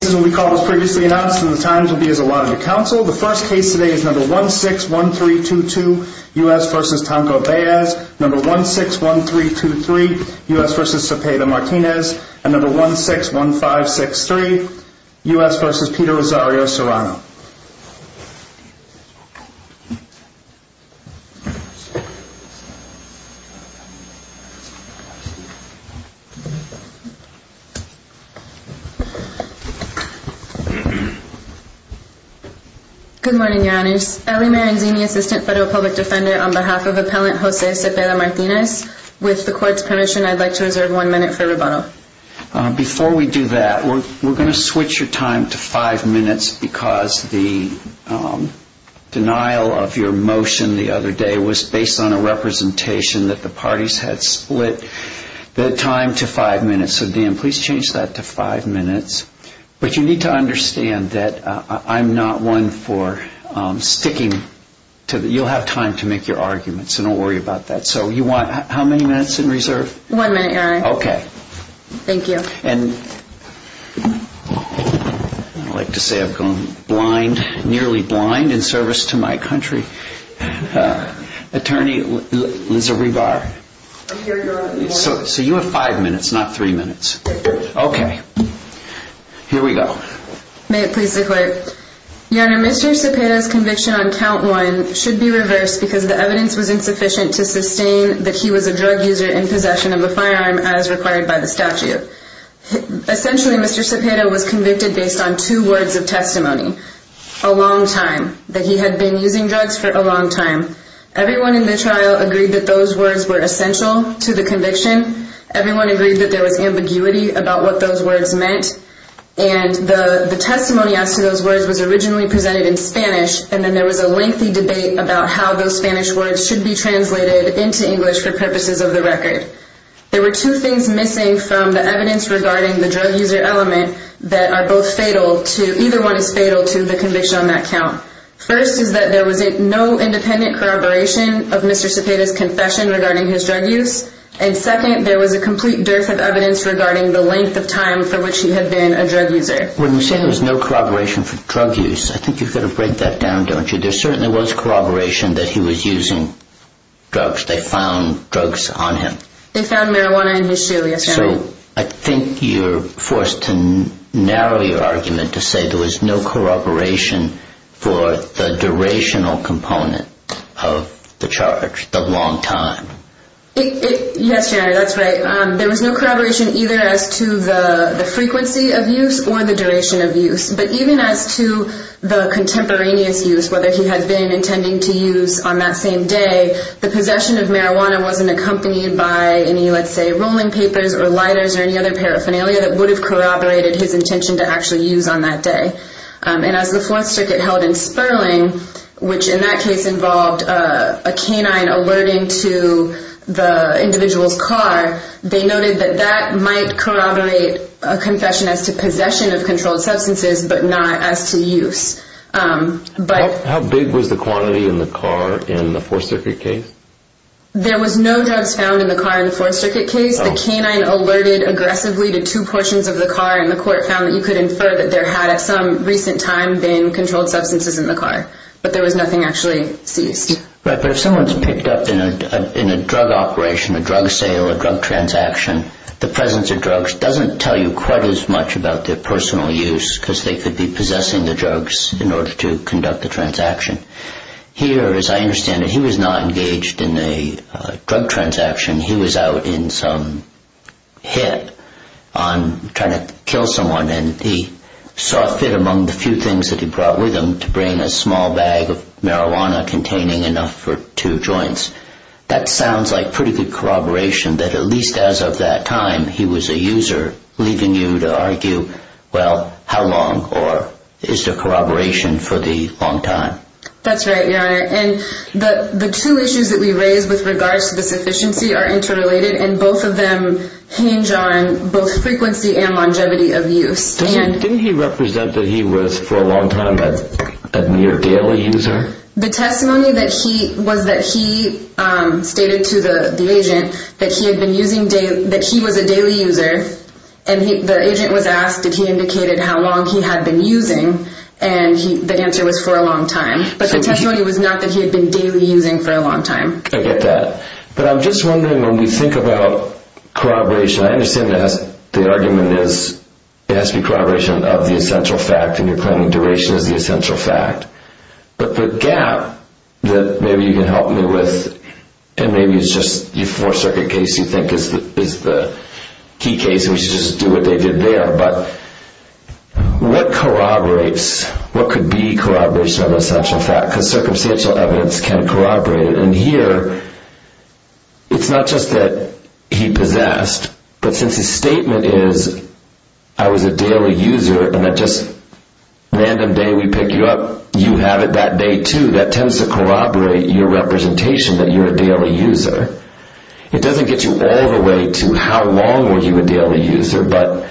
The first case today is number 161322 U.S. v. Tanco-Baez, number 161323 U.S. v. Cepeda-Martinez, and number 161563 U.S. v. Peter Rosario Serrano. Good morning, your honors. Ellie Maranzini, assistant federal public defender on behalf of appellant Jose Cepeda-Martinez. With the court's permission, I'd like to reserve one minute for rebuttal. Before we do that, we're going to switch your time to five minutes, because the denial of your motion the other day was based on a representation that the parties had split the time to five minutes. So, Dan, please change that to five minutes. But you need to understand that I'm not one for sticking. You'll have time to make your arguments, so don't worry about that. So you want how many minutes in reserve? One minute, your honor. Okay. Thank you. And I'd like to say I've gone blind, nearly blind, in service to my country. Attorney Liza Rebar. I'm here, your honor. So you have five minutes, not three minutes. Okay. Here we go. May it please the court. Your honor, Mr. Cepeda's conviction on count one should be reversed because the evidence was insufficient to sustain that he was a drug user in possession of a firearm as required by the statute. Essentially, Mr. Cepeda was convicted based on two words of testimony, a long time, that he had been using drugs for a long time. Everyone in the trial agreed that those words were essential to the conviction. Everyone agreed that there was ambiguity about what those words meant. And the testimony as to those words was originally presented in Spanish, and then there was a lengthy debate about how those Spanish words should be translated into English for purposes of the record. There were two things missing from the evidence regarding the drug user element that are both fatal to, either one is fatal to the conviction on that count. First is that there was no independent corroboration of Mr. Cepeda's confession regarding his drug use. And second, there was a complete dearth of evidence regarding the length of time for which he had been a drug user. When you say there was no corroboration for drug use, I think you've got to break that down, don't you? There certainly was corroboration that he was using drugs. They found drugs on him. So I think you're forced to narrow your argument to say there was no corroboration for the durational component of the charge, the long time. Yes, that's right. There was no corroboration either as to the frequency of use or the duration of use. But even as to the contemporaneous use, whether he had been intending to use on that same day, the possession of marijuana wasn't accompanied by any, let's say, rolling papers or lighters or any other paraphernalia that would have corroborated his intention to actually use on that day. And as the Fourth Circuit held in Sperling, which in that case involved a canine alerting to the individual's car, they noted that that might corroborate a confession as to possession of controlled substances but not as to use. How big was the quantity in the car in the Fourth Circuit case? There was no drugs found in the car in the Fourth Circuit case. The canine alerted aggressively to two portions of the car and the court found that you could infer that there had at some recent time been controlled substances in the car, but there was nothing actually seized. Right, but if someone's picked up in a drug operation, a drug sale, a drug transaction, the presence of drugs doesn't tell you quite as much about their personal use because they could be possessing the drugs in order to conduct the transaction. Here, as I understand it, he was not engaged in a drug transaction. He was out in some hit on trying to kill someone and he saw fit among the few things that he brought with him to bring a small bag of marijuana containing enough for two joints. That sounds like pretty good corroboration that at least as of that time he was a user, leaving you to argue, well, how long or is there corroboration for the long time? That's right, Your Honor, and the two issues that we raise with regards to this efficiency are interrelated and both of them hinge on both frequency and longevity of use. Didn't he represent that he was for a long time a near daily user? The testimony was that he stated to the agent that he was a daily user and the agent was asked if he indicated how long he had been using and the answer was for a long time, but the testimony was not that he had been daily using for a long time. I get that, but I'm just wondering when we think about corroboration, I understand the argument is it has to be corroboration of the essential fact and you're claiming duration is the essential fact, but the gap that maybe you can help me with, and maybe it's just your fourth circuit case you think is the key case and we should just do what they did there, but what corroborates, what could be corroboration of the essential fact? Circumstantial evidence can corroborate it, and here it's not just that he possessed, but since his statement is I was a daily user and that just random day we pick you up, you have it that day too, that tends to corroborate your representation that you're a daily user. It doesn't get you all the way to how long were you a daily user, but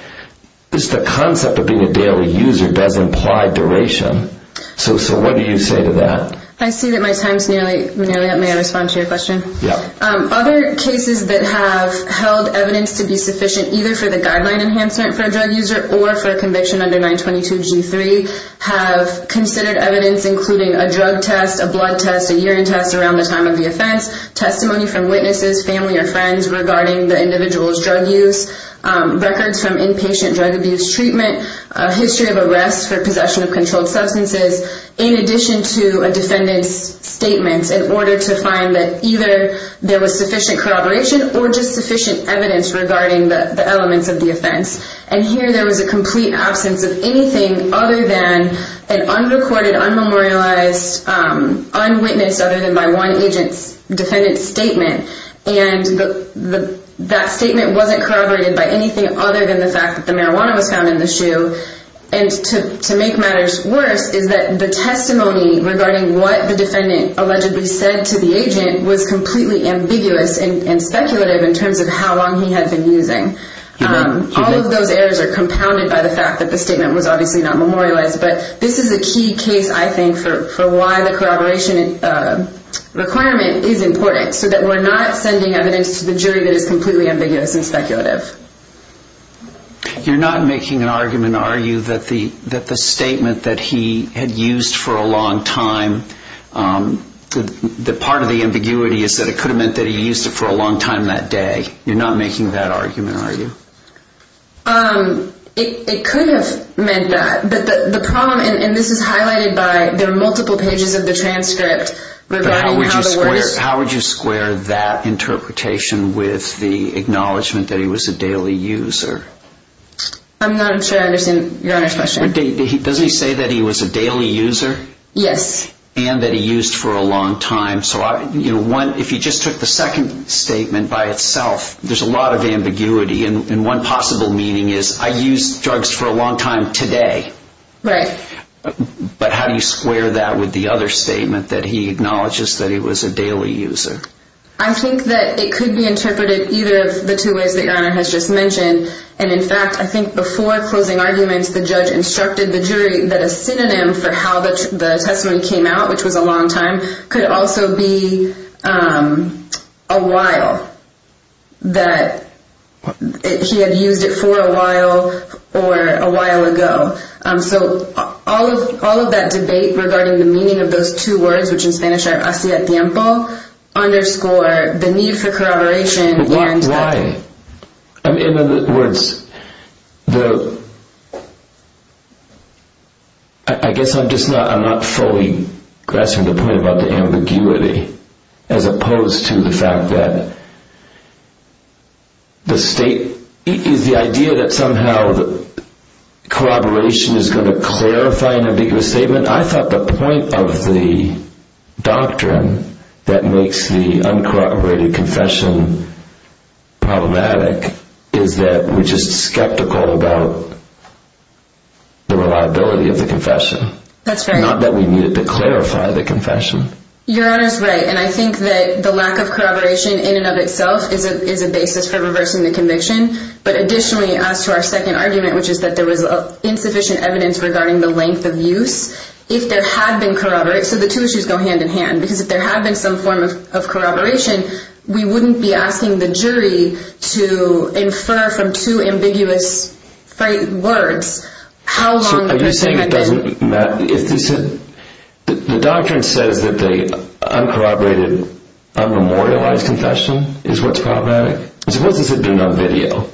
just the concept of being a daily user does imply duration, so what do you say to that? I see that my time is nearly up, may I respond to your question? Yeah. Other cases that have held evidence to be sufficient either for the guideline enhancement for a drug user or for conviction under 922G3 have considered evidence including a drug test, a blood test, a urine test around the time of the offense, testimony from witnesses, family or friends regarding the individual's drug use, records from inpatient drug abuse treatment, a history of arrest for possession of controlled substances, in addition to a defendant's statement in order to find that either there was sufficient corroboration or just sufficient evidence regarding the elements of the offense, and here there was a complete absence of anything other than an unrecorded, unmemorialized, unwitnessed other than by one agent's defendant's statement, and that statement wasn't corroborated by anything other than the fact that the marijuana was found in the shoe, and to make matters worse is that the testimony regarding what the defendant allegedly said to the agent was completely ambiguous and speculative in terms of how long he had been using. All of those errors are compounded by the fact that the statement was obviously not memorialized, but this is a key case I think for why the corroboration requirement is important, so that we're not sending evidence to the jury that is completely ambiguous and speculative. You're not making an argument, are you, that the statement that he had used for a long time, that part of the ambiguity is that it could have meant that he used it for a long time that day? You're not making that argument, are you? It could have meant that, but the problem, and this is highlighted by, there are multiple pages of the transcript. But how would you square that interpretation with the acknowledgement that he was a daily user? I'm not sure I understand Your Honor's question. Does he say that he was a daily user? Yes. And that he used for a long time, so if you just took the second statement by itself, there's a lot of ambiguity, and one possible meaning is, I used drugs for a long time today. Right. But how do you square that with the other statement that he acknowledges that he was a daily user? I think that it could be interpreted either of the two ways that Your Honor has just mentioned. And in fact, I think before closing arguments, the judge instructed the jury that a synonym for how the testimony came out, which was a long time, could also be a while. That he had used it for a while or a while ago. So all of that debate regarding the meaning of those two words, which in Spanish are hacia tiempo, underscore the need for corroboration. Why? In other words, I guess I'm just not fully grasping the point about the ambiguity, as opposed to the fact that the state, the idea that somehow the corroboration is going to clarify an ambiguous statement. I thought the point of the doctrine that makes the uncorroborated confession problematic is that we're just skeptical about the reliability of the confession. That's right. Not that we need it to clarify the confession. Your Honor's right, and I think that the lack of corroboration in and of itself is a basis for reversing the conviction. But additionally, as to our second argument, which is that there was insufficient evidence regarding the length of use. If there had been corroboration, so the two issues go hand in hand. Because if there had been some form of corroboration, we wouldn't be asking the jury to infer from two ambiguous words how long the person had been. The doctrine says that the uncorroborated, unmemorialized confession is what's problematic. Suppose this had been on video.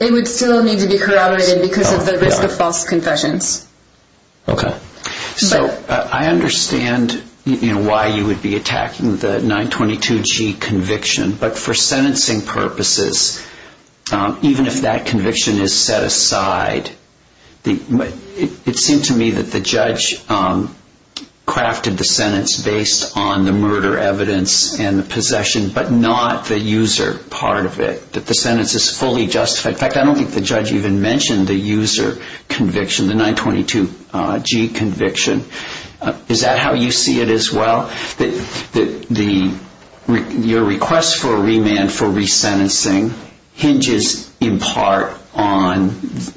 It would still need to be corroborated because of the risk of false confessions. Okay. I understand why you would be attacking the 922G conviction. But for sentencing purposes, even if that conviction is set aside, it seemed to me that the judge crafted the sentence based on the murder evidence and the possession, but not the user part of it. That the sentence is fully justified. In fact, I don't think the judge even mentioned the user conviction, the 922G conviction. Is that how you see it as well? That your request for remand for resentencing hinges in part on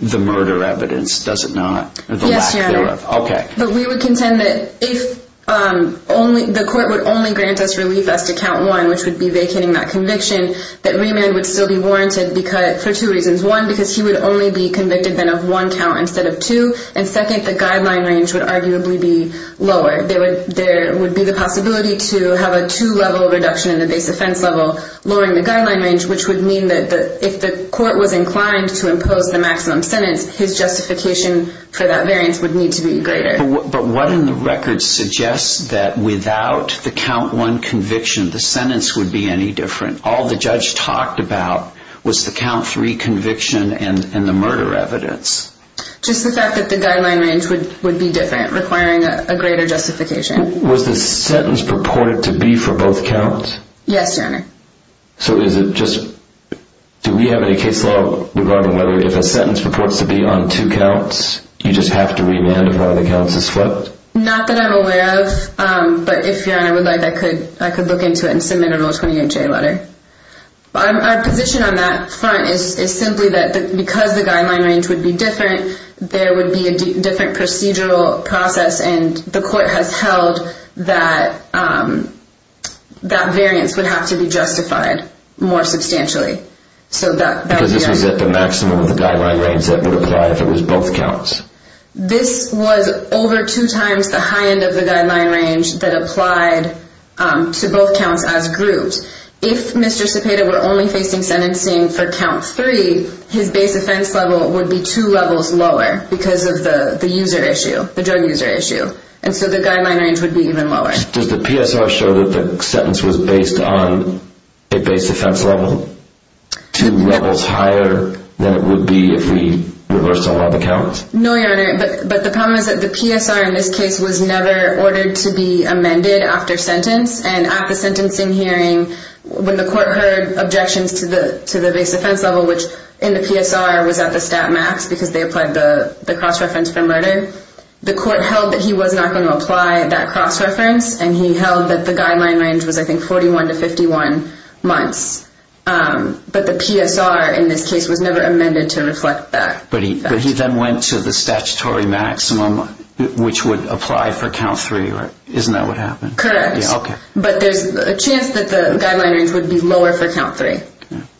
the murder evidence, does it not? Yes, Your Honor. Okay. But we would contend that if the court would only grant us relief as to count one, which would be vacating that conviction, that remand would still be warranted for two reasons. One, because he would only be convicted then of one count instead of two. And second, the guideline range would arguably be lower. There would be the possibility to have a two-level reduction in the base offense level, lowering the guideline range, which would mean that if the court was inclined to impose the maximum sentence, his justification for that variance would need to be greater. But what in the record suggests that without the count one conviction, the sentence would be any different? All the judge talked about was the count three conviction and the murder evidence. Just the fact that the guideline range would be different, requiring a greater justification. Was the sentence purported to be for both counts? Yes, Your Honor. So is it just, do we have any case law regarding whether if a sentence purports to be on two counts, you just have to remand if one of the counts is flipped? Not that I'm aware of, but if Your Honor would like, I could look into it and submit a Rule 28J letter. Our position on that front is simply that because the guideline range would be different, there would be a different procedural process. And the court has held that that variance would have to be justified more substantially. Because this was at the maximum of the guideline range that would apply if it was both counts? This was over two times the high end of the guideline range that applied to both counts as groups. If Mr. Cepeda were only facing sentencing for count three, his base offense level would be two levels lower because of the user issue, the drug user issue. And so the guideline range would be even lower. Does the PSR show that the sentence was based on a base offense level? Two levels higher than it would be if we reversed all of the counts? No, Your Honor. But the problem is that the PSR in this case was never ordered to be amended after sentence. And at the sentencing hearing, when the court heard objections to the base offense level, which in the PSR was at the stat max because they applied the cross-reference for murder, the court held that he was not going to apply that cross-reference, and he held that the guideline range was, I think, 41 to 51 months. But the PSR in this case was never amended to reflect that. But he then went to the statutory maximum, which would apply for count three. Isn't that what happened? Correct. Okay. But there's a chance that the guideline range would be lower for count three.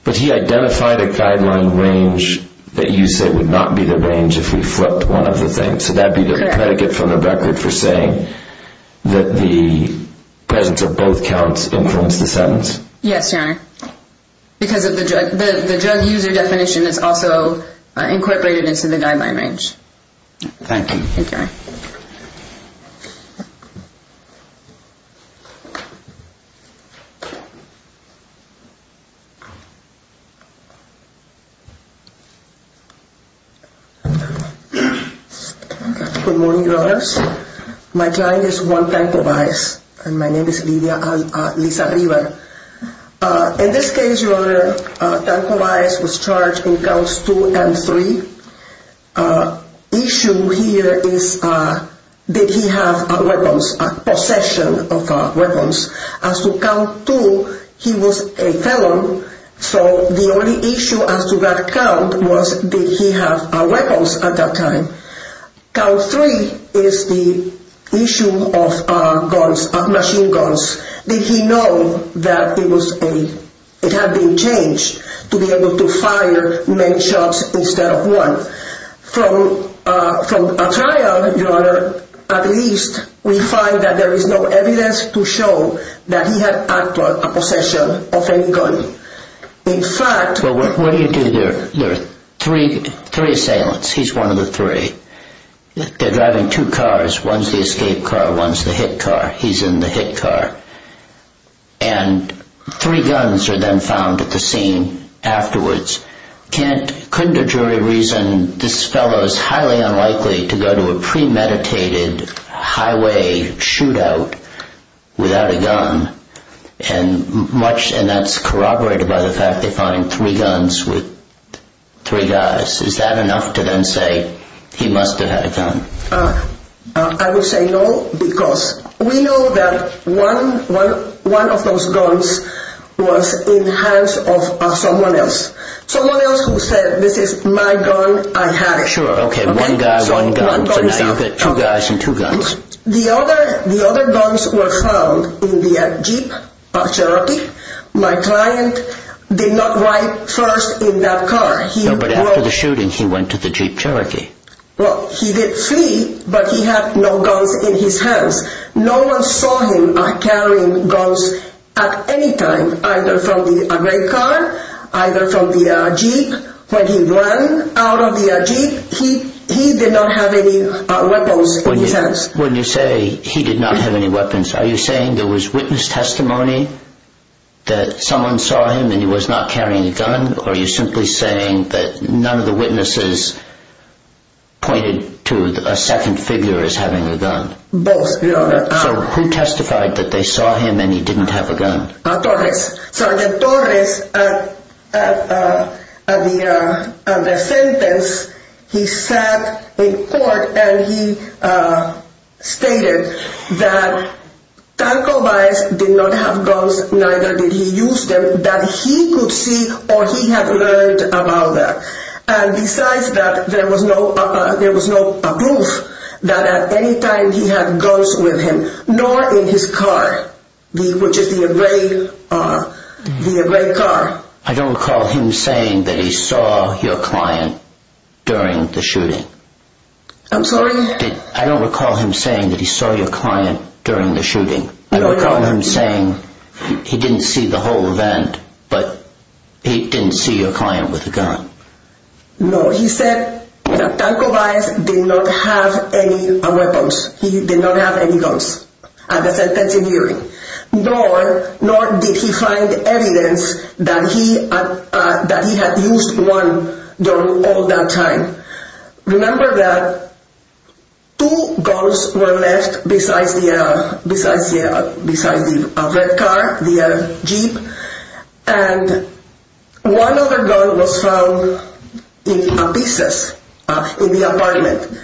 But he identified a guideline range that you say would not be the range if we flipped one of the things. Correct. So that would be the predicate from the record for saying that the presence of both counts influenced the sentence? Yes, Your Honor. Because the drug user definition is also incorporated into the guideline range. Thank you. Thank you, Your Honor. Good morning, Your Honors. My client is Juan Tancováez, and my name is Lidia Aliza-River. In this case, Your Honor, Tancováez was charged in counts two and three. Issue here is did he have weapons, possession of weapons. As to count two, he was a felon, so the only issue as to that count was did he have weapons at that time. Count three is the issue of guns, of machine guns. Did he know that it had been changed to be able to fire many shots instead of one? From a trial, Your Honor, at least we find that there is no evidence to show that he had actual possession of any gun. In fact... Well, what do you do? There are three assailants. He's one of the three. They're driving two cars. One's the escape car, one's the hit car. He's in the hit car. And three guns are then found at the scene afterwards. Couldn't a jury reason this fellow is highly unlikely to go to a premeditated highway shootout without a gun? And that's corroborated by the fact they find three guns with three guys. Is that enough to then say he must have had a gun? I would say no, because we know that one of those guns was in the hands of someone else. Someone else who said, this is my gun, I have it. Sure, okay, one guy, one gun. So now you've got two guys and two guns. The other guns were found in the Jeep, my client did not ride first in that car. No, but after the shooting he went to the Jeep Cherokee. Well, he did flee, but he had no guns in his hands. No one saw him carrying guns at any time, either from the rake car, either from the Jeep. When he ran out of the Jeep, he did not have any weapons in his hands. When you say he did not have any weapons, are you saying there was witness testimony that someone saw him and he was not carrying a gun? Or are you simply saying that none of the witnesses pointed to a second figure as having a gun? Both. So who testified that they saw him and he didn't have a gun? Torres. Sergeant Torres, at the sentence, he sat in court and he stated that Tanco Baez did not have guns, neither did he use them, that he could see or he had learned about that. And besides that, there was no proof that at any time he had guns with him, nor in his car, which is the rake car. I don't recall him saying that he saw your client during the shooting. I'm sorry? I don't recall him saying that he saw your client during the shooting. I don't recall him saying he didn't see the whole event, but he didn't see your client with a gun. No, he said that Tanco Baez did not have any weapons. He did not have any guns at the sentencing hearing, nor did he find evidence that he had used one all that time. Remember that two guns were left besides the rake car, the jeep, and one other gun was found in pieces in the apartment.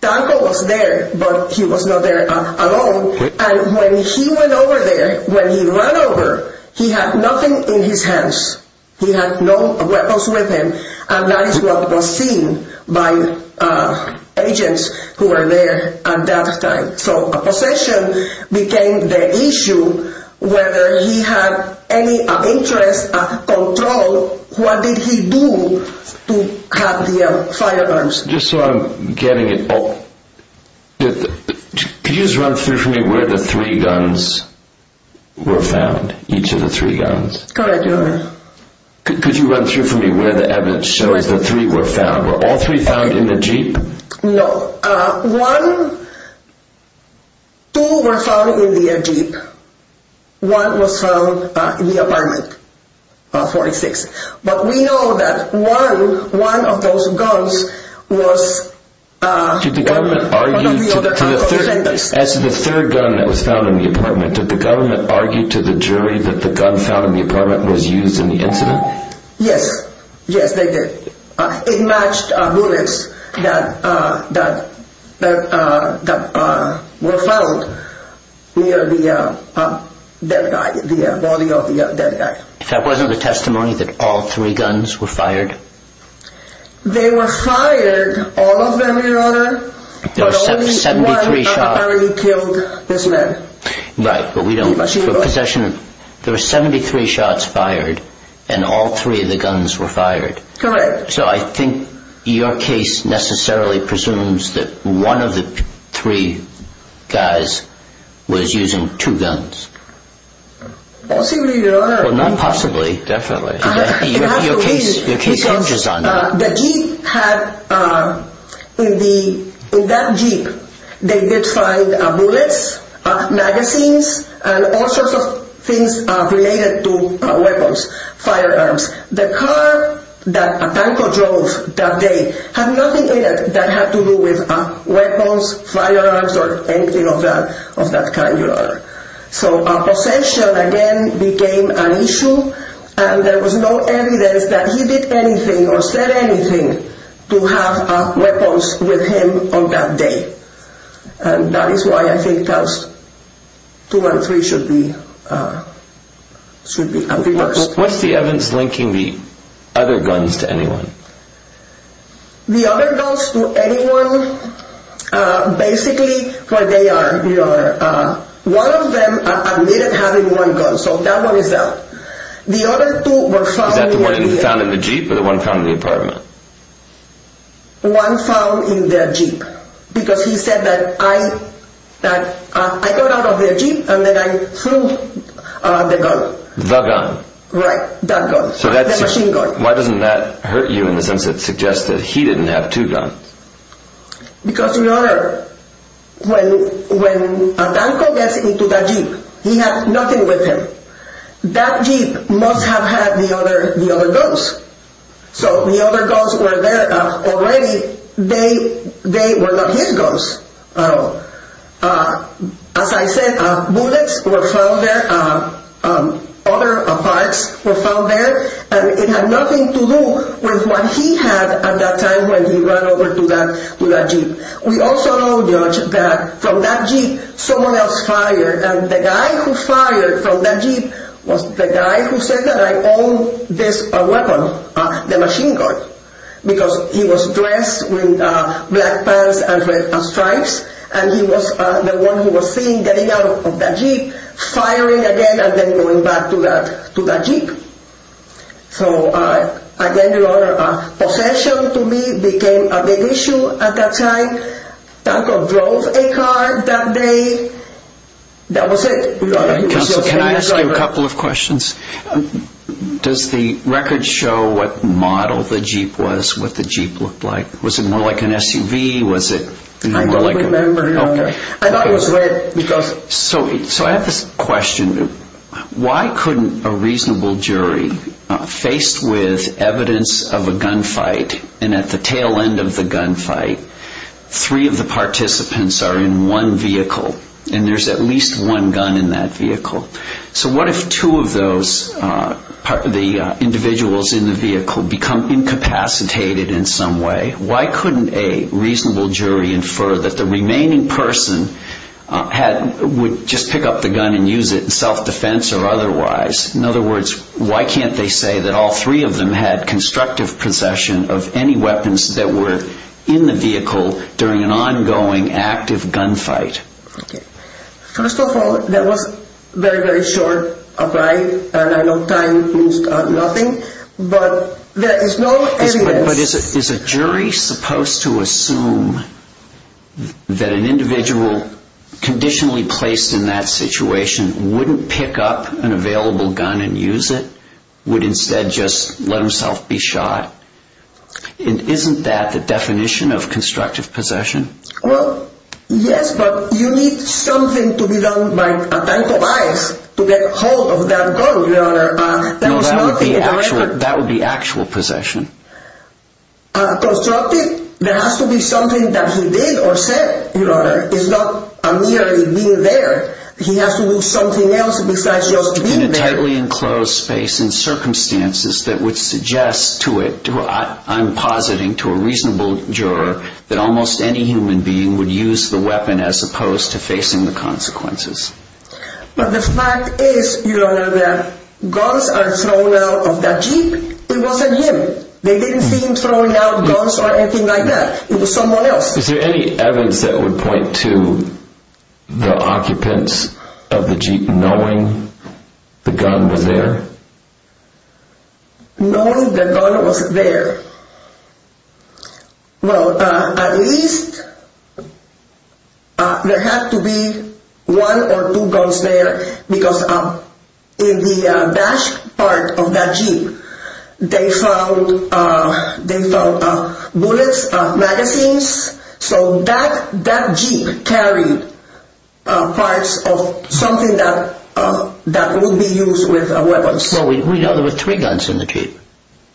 Tanco was there, but he was not there alone. And when he went over there, when he ran over, he had nothing in his hands. He had no weapons with him, and that is what was seen by agents who were there at that time. So a possession became the issue, whether he had any interest, control, what did he do to have the firearms. Just so I'm getting it all, could you just run through for me where the three guns were found, each of the three guns? Could you run through for me where the evidence shows the three were found? Were all three found in the jeep? No. One, two were found in the jeep. One was found in the apartment, 46. But we know that one of those guns was one of the other Tanco offenders. As to the third gun that was found in the apartment, did the government argue to the jury that the gun found in the apartment was used in the incident? Yes, yes they did. It matched bullets that were found near the body of the dead guy. If that wasn't a testimony that all three guns were fired? They were fired, all of them in order, but only one apparently killed this man. Right, but we don't know. There were 73 shots fired, and all three of the guns were fired. Correct. So I think your case necessarily presumes that one of the three guys was using two guns. Possibly, Your Honor. Well, not possibly. Definitely. Your case counters on that. The jeep had, in that jeep, they did find bullets, magazines, and all sorts of things related to weapons, firearms. The car that Tanco drove that day had nothing in it that had to do with weapons, firearms, or anything of that kind, Your Honor. So possession, again, became an issue, and there was no evidence that he did anything or said anything to have weapons with him on that day. And that is why I think those two and three should be reversed. What's the evidence linking the other guns to anyone? The other guns to anyone, basically, what they are, Your Honor, one of them admitted having one gun, so that one is out. The other two were found in the jeep. Is that the one found in the jeep or the one found in the apartment? One found in the jeep, because he said that I got out of the jeep and then I threw the gun. The gun. Right, that gun, the machine gun. Why doesn't that hurt you in the sense that it suggests that he didn't have two guns? Because, Your Honor, when Tanco gets into that jeep, he had nothing with him. That jeep must have had the other guns. So the other guns were there already. They were not his guns. As I said, bullets were found there. Other parts were found there. And it had nothing to do with what he had at that time when he ran over to that jeep. We also know, Judge, that from that jeep, someone else fired. And the guy who fired from that jeep was the guy who said that I own this weapon, the machine gun. Because he was dressed in black pants and stripes, and he was the one who was seen getting out of that jeep, firing again, and then going back to that jeep. So, again, Your Honor, possession to me became a big issue at that time. Tanco drove a car that day. That was it. Counsel, can I ask you a couple of questions? Does the record show what model the jeep was, what the jeep looked like? Was it more like an SUV? I don't remember, Your Honor. I thought it was red. So I have this question. Why couldn't a reasonable jury, faced with evidence of a gunfight, and at the tail end of the gunfight, three of the participants are in one vehicle, and there's at least one gun in that vehicle. So what if two of those individuals in the vehicle become incapacitated in some way? Why couldn't a reasonable jury infer that the remaining person would just pick up the gun and use it in self-defense or otherwise? In other words, why can't they say that all three of them had constructive possession of any weapons that were in the vehicle during an ongoing active gunfight? Okay. First of all, that was very, very short of time, and I know time means nothing. But there is no evidence. But is a jury supposed to assume that an individual conditionally placed in that situation wouldn't pick up an available gun and use it, would instead just let himself be shot? Isn't that the definition of constructive possession? Well, yes, but you need something to be done by a type of eyes to get hold of that gun, Your Honor. No, that would be actual possession. Constructive? There has to be something that he did or said, Your Honor. It's not merely being there. He has to do something else besides just being there. In a tightly enclosed space and circumstances that would suggest to it, I'm positing to a reasonable juror that almost any human being would use the weapon as opposed to facing the consequences. But the fact is, Your Honor, that guns are thrown out of that Jeep. It wasn't him. They didn't seem throwing out guns or anything like that. It was someone else. Is there any evidence that would point to the occupants of the Jeep knowing the gun was there? Knowing the gun was there? Well, at least there had to be one or two guns there because in the dash part of that Jeep, they found bullets, magazines, so that Jeep carried parts of something that would be used with a weapon. Well, we know there were three guns in the Jeep.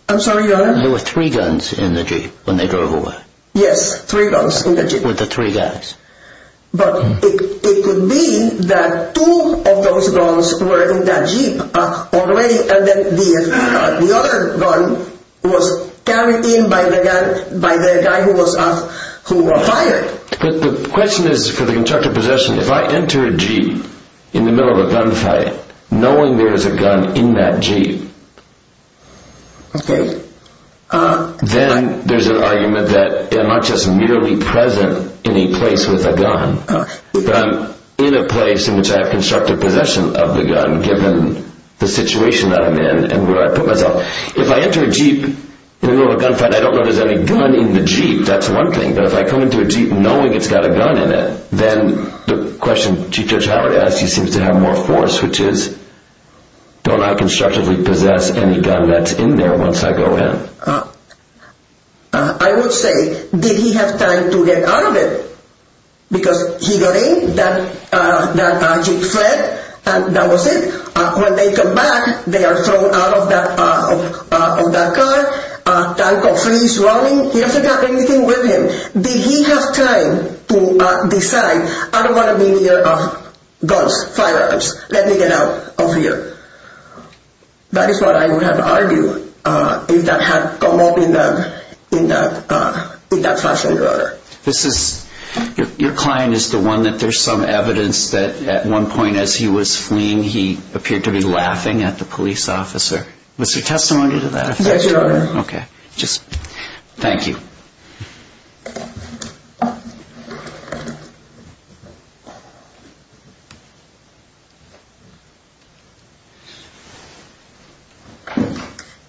I'm sorry, Your Honor? There were three guns in the Jeep when they drove away. Yes, three guns in the Jeep. With the three guys. But it could be that two of those guns were in that Jeep already and then the other gun was carried in by the guy who was fired. The question is, for the constructive possession, if I enter a Jeep in the middle of a gunfight knowing there's a gun in that Jeep, then there's an argument that I'm not just merely present in a place with a gun, but I'm in a place in which I have constructive possession of the gun given the situation that I'm in and where I put myself. If I enter a Jeep in the middle of a gunfight, I don't know if there's any gun in the Jeep. That's one thing. But if I come into a Jeep knowing it's got a gun in it, then the question Chief Judge Howard asked, he seems to have more force, which is don't I constructively possess any gun that's in there once I go in? I would say, did he have time to get out of it? Because he got in, that Jeep fled, and that was it. When they come back, they are thrown out of that car, the tanker freeze running, he doesn't have anything with him. Did he have time to decide, I don't want to be near guns, firearms, let me get out of here? That is what I would have argued if that had come up in that fashion. Your client is the one that there's some evidence that at one point as he was fleeing, he appeared to be laughing at the police officer. Was there testimony to that? Yes, Your Honor. Okay. Thank you.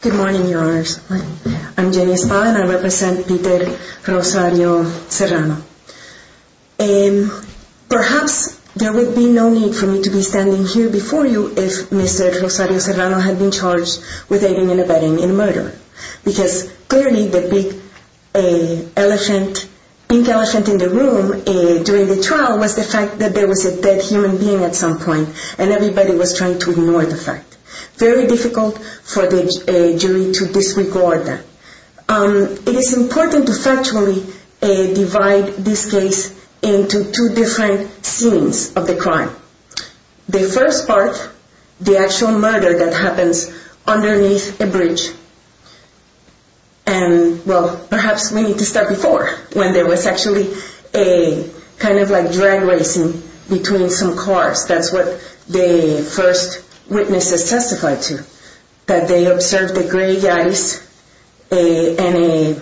Good morning, Your Honors. Good morning. I'm Jenny Espada, and I represent Peter Rosario Serrano. Perhaps there would be no need for me to be standing here before you if Mr. Rosario Serrano had been charged with aiding and abetting in murder. Because clearly the big elephant, pink elephant in the room during the trial was the fact that there was a dead human being at some point, and everybody was trying to ignore the fact. Very difficult for the jury to disregard that. It is important to factually divide this case into two different scenes of the crime. The first part, the actual murder that happens underneath a bridge. And, well, perhaps we need to start before, when there was actually a kind of like drag racing between some cars. That's what the first witnesses testified to, that they observed the gray guys and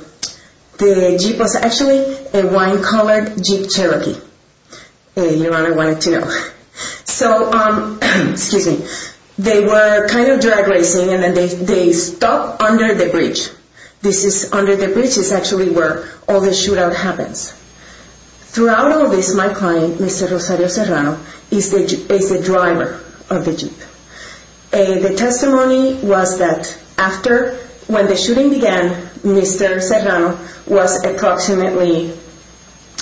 the Jeep was actually a wine-colored Jeep Cherokee. Your Honor wanted to know. So, excuse me, they were kind of drag racing, and then they stopped under the bridge. This is under the bridge is actually where all the shootout happens. Throughout all this, my client, Mr. Rosario Serrano, is the driver of the Jeep. The testimony was that after, when the shooting began, Mr. Serrano was approximately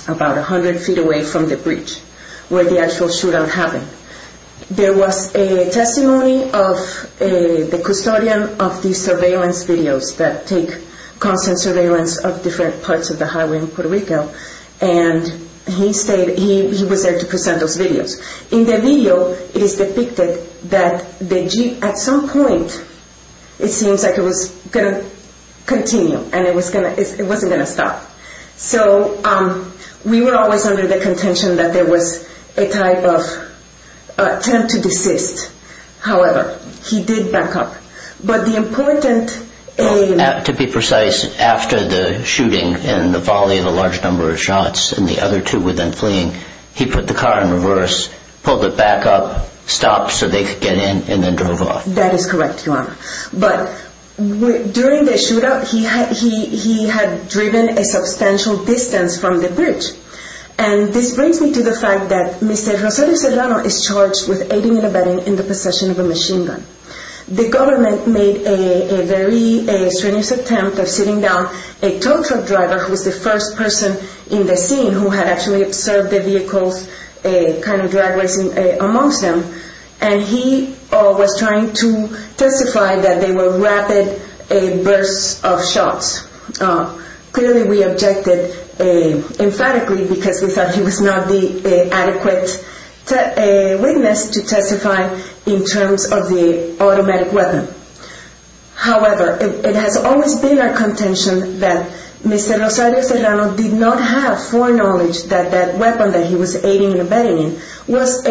about 100 feet away from the bridge, where the actual shootout happened. There was a testimony of the custodian of the surveillance videos that take constant surveillance of different parts of the highway in Puerto Rico, and he was there to present those videos. In the video, it is depicted that the Jeep, at some point, it seems like it was going to continue, and it wasn't going to stop. So, we were always under the contention that there was a type of attempt to desist. However, he did back up. But the important aim... To be precise, after the shooting and the volley of a large number of shots, and the other two were then fleeing, he put the car in reverse, pulled it back up, stopped so they could get in, and then drove off. Yes, that is correct, Your Honor. But during the shootout, he had driven a substantial distance from the bridge. And this brings me to the fact that Mr. Rosario Serrano is charged with aiding and abetting in the possession of a machine gun. The government made a very strenuous attempt of sitting down a tow truck driver, who was the first person in the scene who had actually observed the vehicles, kind of drag racing amongst them, and he was trying to testify that they were rapid bursts of shots. Clearly, we objected emphatically, because we thought he was not the adequate witness to testify in terms of the automatic weapon. However, it has always been our contention that Mr. Rosario Serrano did not have foreknowledge that that weapon that he was aiding and abetting in was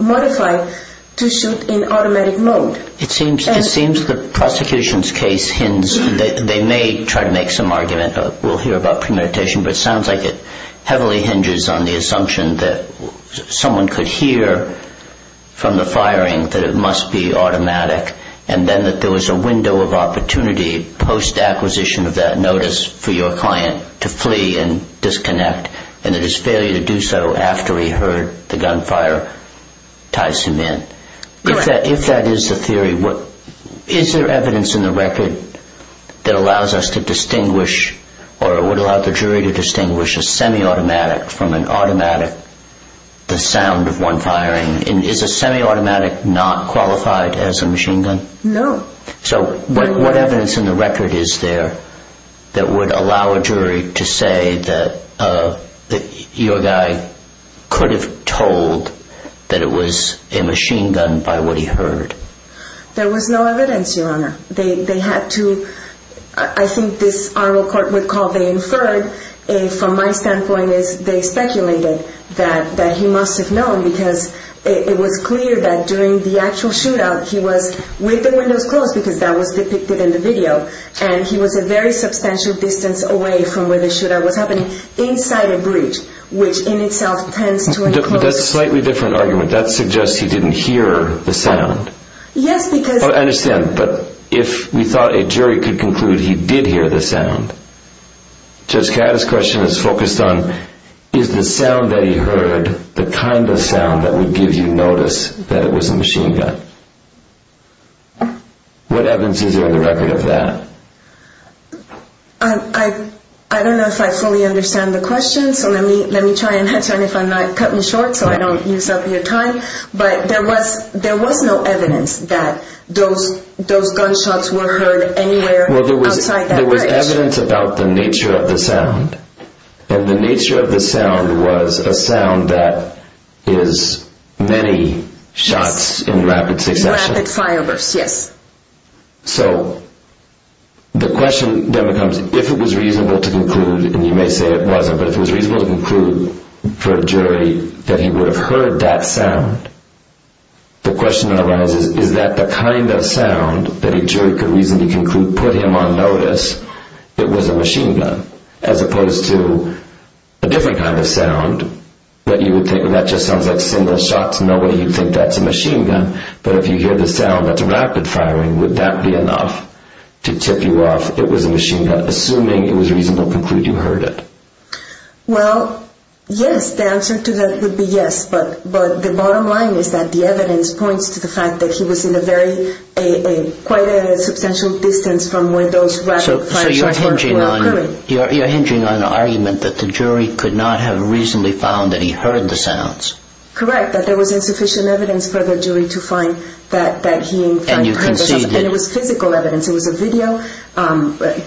modified to shoot in automatic mode. It seems the prosecution's case hints that they may try to make some argument. We'll hear about premeditation, but it sounds like it heavily hinges on the assumption that someone could hear from the firing that it must be automatic, and then that there was a window of opportunity post-acquisition of that notice for your client to flee and disconnect, and that his failure to do so after he heard the gunfire ties him in. If that is the theory, is there evidence in the record that would allow the jury to distinguish a semi-automatic from an automatic, the sound of one firing? Is a semi-automatic not qualified as a machine gun? No. So what evidence in the record is there that would allow a jury to say that your guy could have told that it was a machine gun by what he heard? There was no evidence, Your Honor. They had to, I think this oral court would call, they inferred, from my standpoint is they speculated that he must have known because it was clear that during the actual shootout he was with the windows closed because that was depicted in the video, and he was a very substantial distance away from where the shootout was happening inside a bridge, which in itself tends to enclose. That's a slightly different argument. That suggests he didn't hear the sound. Yes, because... I understand, but if we thought a jury could conclude he did hear the sound, Judge Catt, his question is focused on is the sound that he heard the kind of sound that would give you notice that it was a machine gun? What evidence is there in the record of that? I don't know if I fully understand the question, so let me try and cut me short so I don't use up your time, but there was no evidence that those gunshots were heard anywhere outside that bridge. There was evidence about the nature of the sound, and the nature of the sound was a sound that is many shots in rapid succession. Rapid fire bursts, yes. So the question then becomes if it was reasonable to conclude, and you may say it wasn't, but if it was reasonable to conclude for a jury that he would have heard that sound, the question arises is that the kind of sound that a jury could reasonably conclude would put him on notice it was a machine gun, as opposed to a different kind of sound that you would think, well, that just sounds like single shots, nobody would think that's a machine gun, but if you hear the sound that's rapid firing, would that be enough to tip you off it was a machine gun? Assuming it was reasonable to conclude you heard it. Well, yes, the answer to that would be yes, but the bottom line is that the evidence points to the fact that he was in quite a substantial distance from where those rapid fire shots were occurring. So you're hinging on an argument that the jury could not have reasonably found that he heard the sounds. Correct, that there was insufficient evidence for the jury to find that he in fact heard the sounds, and it was physical evidence. It was a video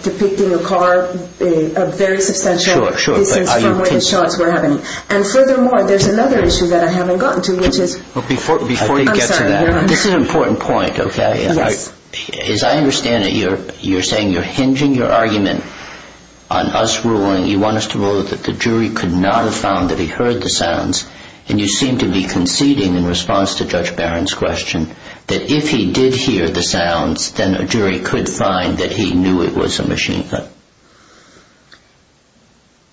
depicting a car a very substantial distance from where the shots were happening. And furthermore, there's another issue that I haven't gotten to. Before you get to that, this is an important point. As I understand it, you're saying you're hinging your argument on us ruling, you want us to rule that the jury could not have found that he heard the sounds, and you seem to be conceding in response to Judge Barron's question that if he did hear the sounds, then a jury could find that he knew it was a machine gun.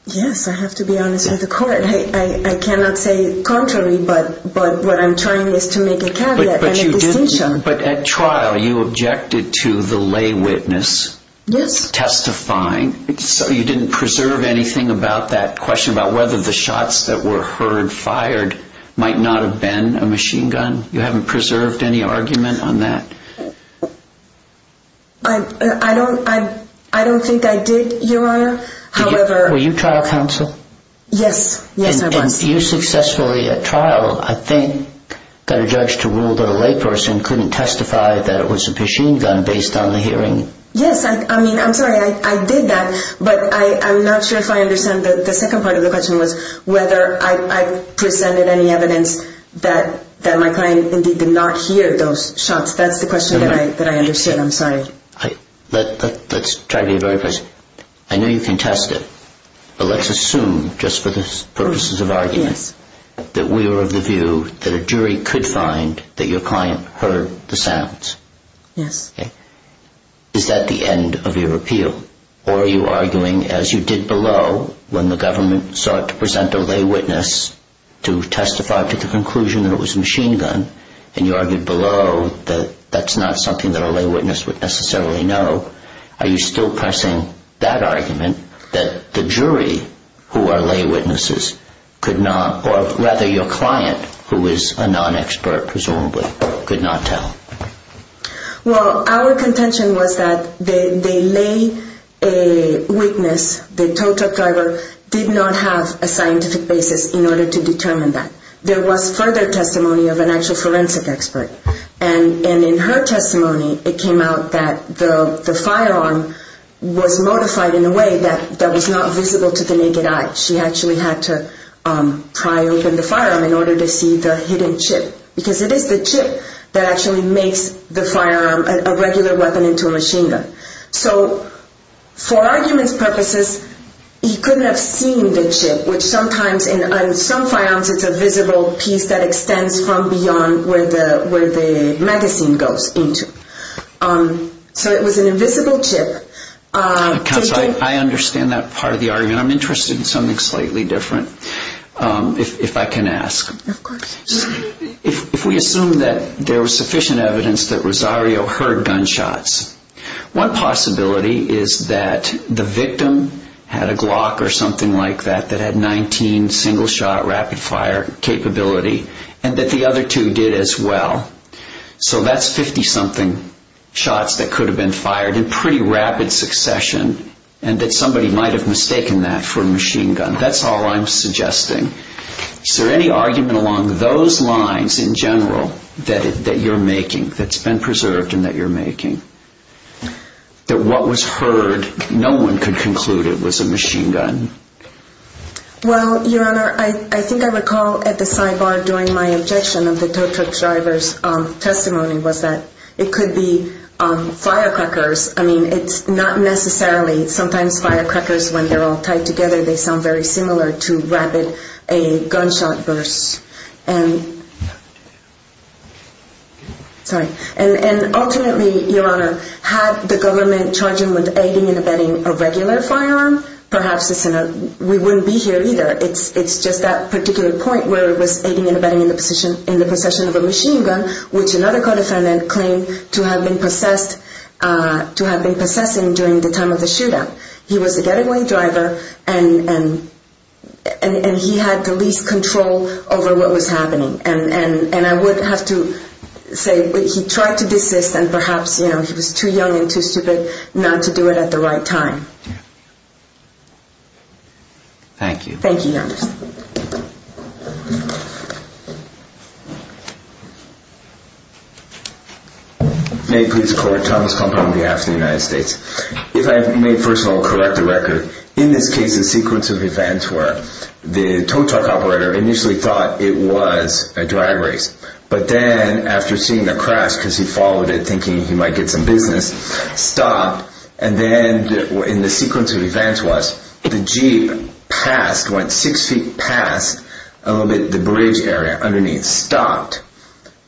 Yes, I have to be honest with the court. I cannot say contrary, but what I'm trying is to make a caveat and a distinction. But at trial, you objected to the lay witness testifying, so you didn't preserve anything about that question about whether the shots that were heard fired might not have been a machine gun? You haven't preserved any argument on that? I don't think I did, Your Honor. Were you trial counsel? Yes, yes I was. And you successfully at trial, I think, got a judge to rule that a lay person couldn't testify that it was a machine gun based on the hearing. Yes, I mean, I'm sorry, I did that, but I'm not sure if I understand. The second part of the question was whether I presented any evidence that my client indeed did not hear those shots. That's the question that I understood. I'm sorry. Let's try to be very precise. I know you can test it, but let's assume, just for the purposes of argument, that we are of the view that a jury could find that your client heard the sounds. Yes. Is that the end of your appeal? Or are you arguing, as you did below, when the government sought to present a lay witness to testify to the conclusion that it was a machine gun, and you argued below that that's not something that a lay witness would necessarily know, are you still pressing that argument that the jury, who are lay witnesses, could not, or rather your client, who is a non-expert presumably, could not tell? Well, our contention was that the lay witness, the tow truck driver, did not have a scientific basis in order to determine that. There was further testimony of an actual forensic expert. And in her testimony, it came out that the firearm was modified in a way that was not visible to the naked eye. She actually had to pry open the firearm in order to see the hidden chip, because it is the chip that actually makes the firearm a regular weapon into a machine gun. So for argument's purposes, he couldn't have seen the chip, which sometimes in some firearms it's a visible piece that extends from beyond where the magazine goes into. So it was an invisible chip. Counsel, I understand that part of the argument. I'm interested in something slightly different, if I can ask. Of course. If we assume that there was sufficient evidence that Rosario heard gunshots, one possibility is that the victim had a Glock or something like that that had 19 single-shot rapid-fire capability and that the other two did as well. So that's 50-something shots that could have been fired in pretty rapid succession and that somebody might have mistaken that for a machine gun. That's all I'm suggesting. Is there any argument along those lines in general that you're making, that's been preserved and that you're making, that what was heard, no one could conclude it was a machine gun? Well, Your Honor, I think I recall at the sidebar during my objection of the tuk-tuk driver's testimony was that it could be firecrackers. I mean, it's not necessarily. Sometimes firecrackers, when they're all tied together, they sound very similar to rapid gunshot bursts. Sorry. And ultimately, Your Honor, had the government charged him with aiding and abetting a regular firearm, perhaps we wouldn't be here either. It's just that particular point where it was aiding and abetting in the possession of a machine gun, which another co-defendant claimed to have been possessing during the time of the shootout. He was a getaway driver and he had the least control over what was happening. And I would have to say he tried to desist and perhaps, you know, he was too young and too stupid not to do it at the right time. Thank you. Thank you, Your Honor. May it please the Court. Thomas Compton on behalf of the United States. If I may, first of all, correct the record. In this case, the sequence of events were the tow truck operator initially thought it was a drag race. But then after seeing the crash, because he followed it thinking he might get some business, stopped. And then in the sequence of events was the Jeep passed, went six feet past the bridge area underneath, stopped.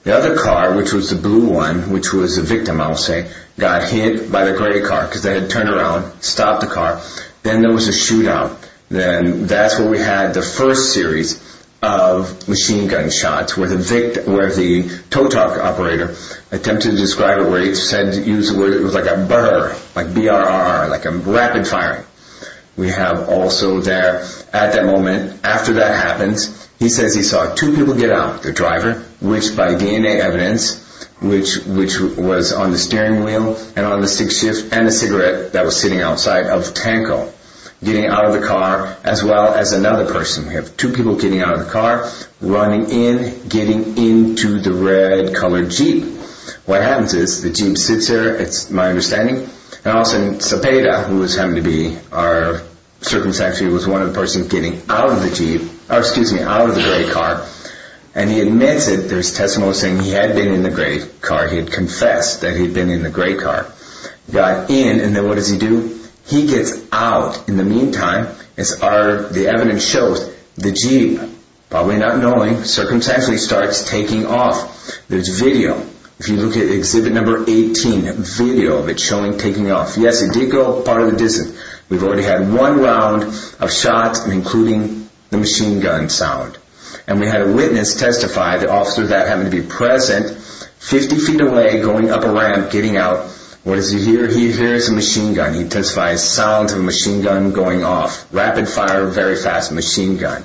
The other car, which was the blue one, which was the victim, I would say, got hit by the gray car, because they had turned around, stopped the car. Then there was a shootout. Then that's where we had the first series of machine gun shots, where the tow truck operator attempted to describe it where he said it was like a BRRR, like a rapid firing. We have also there at that moment, after that happens, he says he saw two people get out, the driver, which by DNA evidence, which was on the steering wheel and on the sixth shift, and a cigarette that was sitting outside of Tanko, getting out of the car, as well as another person. We have two people getting out of the car, running in, getting into the red colored Jeep. What happens is the Jeep sits there, it's my understanding, and all of a sudden Zapata, who was having to be our circumcised, was one of the persons getting out of the gray car, and he admits it. There's testimony saying he had been in the gray car, he had confessed that he had been in the gray car. He got in, and then what does he do? He gets out. In the meantime, as the evidence shows, the Jeep, probably not knowing, circumstantially starts taking off. There's video. If you look at exhibit number 18, video of it showing taking off. Yes, it did go part of the distance. We've already had one round of shots, including the machine gun sound. And we had a witness testify, the officer that happened to be present, 50 feet away, going up a ramp, getting out. What does he hear? He hears a machine gun. He testifies sound of a machine gun going off. Rapid fire, very fast machine gun.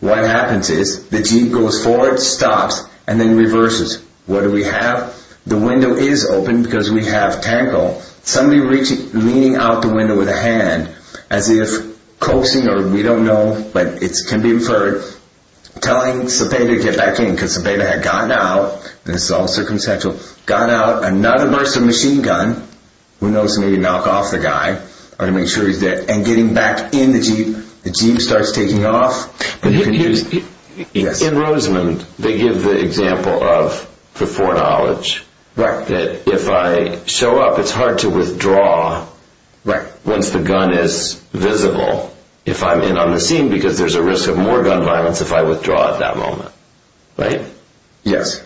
What happens is the Jeep goes forward, stops, and then reverses. What do we have? The window is open because we have Tanko. Somebody leaning out the window with a hand, as if coaxing, or we don't know, but it can be inferred, telling Cepeda to get back in because Cepeda had gotten out. This is all circumstantial. Got out, another burst of machine gun. Who knows, maybe knock off the guy, or make sure he's dead. And getting back in the Jeep, the Jeep starts taking off. In Rosamond, they give the example of the foreknowledge. That if I show up, it's hard to withdraw once the gun is visible. If I'm in on the scene, because there's a risk of more gun violence if I withdraw at that moment. Right? Yes.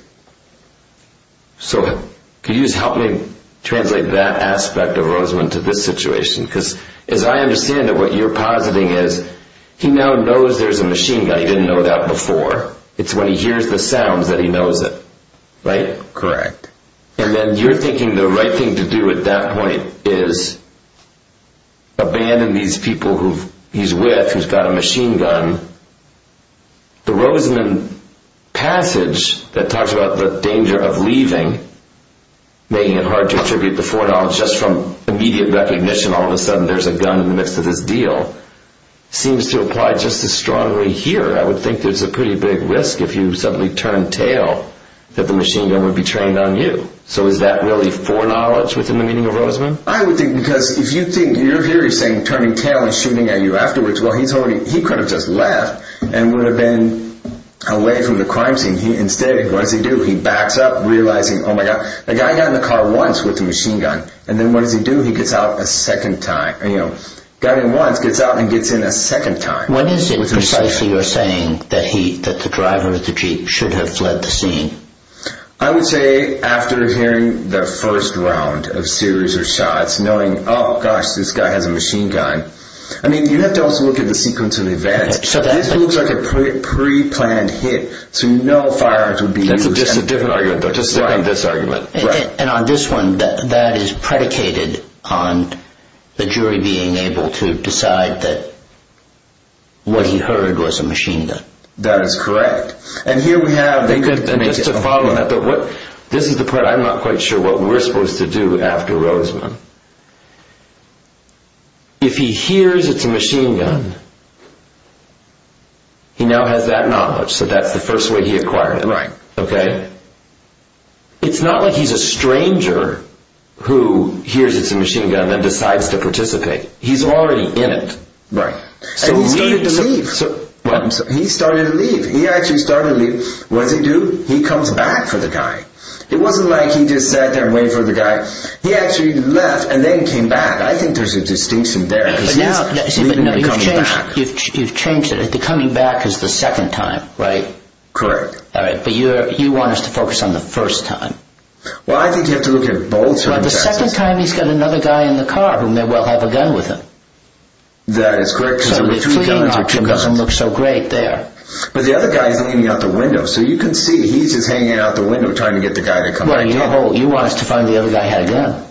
So, could you just help me translate that aspect of Rosamond to this situation? Because as I understand it, what you're positing is, he now knows there's a machine gun, he didn't know that before. It's when he hears the sounds that he knows it. Right? Correct. And then you're thinking the right thing to do at that point is abandon these people he's with, who's got a machine gun. The Rosamond passage that talks about the danger of leaving, making it hard to attribute the foreknowledge just from immediate recognition, all of a sudden there's a gun in the midst of this deal, seems to apply just as strongly here. I would think there's a pretty big risk if you suddenly turn tail, that the machine gun would be trained on you. So is that really foreknowledge within the meaning of Rosamond? I would think, because if you think, your theory is saying turning tail and shooting at you afterwards, well, he could have just left and would have been away from the crime scene. Instead, what does he do? He backs up, realizing, oh my God, the guy got in the car once with the machine gun, and then what does he do? He gets out a second time, you know, got in once, gets out and gets in a second time. When is it precisely you're saying that the driver of the Jeep should have fled the scene? I would say after hearing the first round of series of shots, knowing, oh gosh, this guy has a machine gun. I mean, you have to also look at the sequence of events. This looks like a pre-planned hit, so you know firearms would be used. That's just a different argument, though. Just stick on this argument. And on this one, that is predicated on the jury being able to decide that what he heard was a machine gun. That is correct. This is the part I'm not quite sure what we're supposed to do after Rosamond. If he hears it's a machine gun, he now has that knowledge, so that's the first way he acquired it. Right. It's not like he's a stranger who hears it's a machine gun and decides to participate. He's already in it. Right. So he started to leave. What? He started to leave. He actually started to leave. What does he do? He comes back for the guy. It wasn't like he just sat there and waited for the guy. He actually left and then came back. I think there's a distinction there. But now, you've changed it. The coming back is the second time, right? Correct. All right, but you want us to focus on the first time. Well, I think you have to look at both circumstances. The second time, he's got another guy in the car who may well have a gun with him. That is correct. So the fleeing option doesn't look so great there. But the other guy is leaning out the window, so you can see he's just hanging out the window trying to get the guy to come back in. Well, you want us to find the other guy had a gun.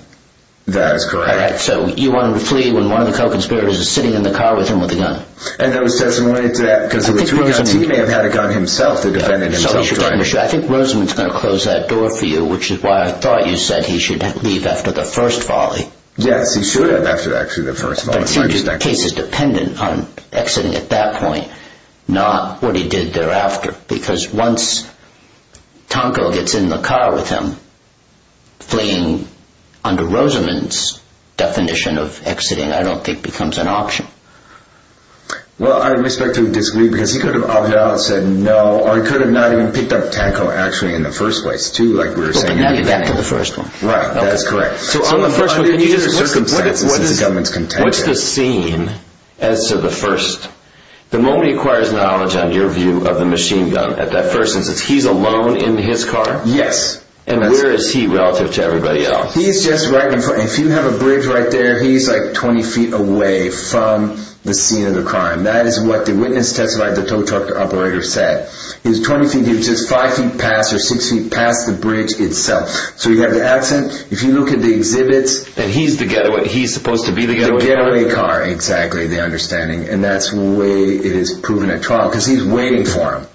That is correct. So you want him to flee when one of the co-conspirators is sitting in the car with him with a gun. I think Rosamond is going to close that door for you, which is why I thought you said he should leave after the first volley. Yes, he should have after actually the first volley. The case is dependent on exiting at that point, not what he did thereafter. Because once Tonko gets in the car with him, fleeing under Rosamond's definition of exiting, I don't think, becomes an option. Well, I respect him disagreeing because he could have opted out and said no, or he could have not even picked up Tonko actually in the first place, too, like we were saying. But now you're back to the first one. Right, that is correct. So on the first one, can you just listen? What is the scene as to the first? The moment he acquires knowledge, on your view, of the machine gun at that first instance, he's alone in his car? Yes. And where is he relative to everybody else? He's just right in front. If you have a bridge right there, he's like 20 feet away from the scene of the crime. That is what the witness testified, the tow truck operator said. He was 20 feet. He was just 5 feet past or 6 feet past the bridge itself. So you have the accent. If you look at the exhibits. And he's the getaway. He's supposed to be the getaway. The getaway car, exactly, the understanding. And that's the way it is proven at trial because he's waiting for him.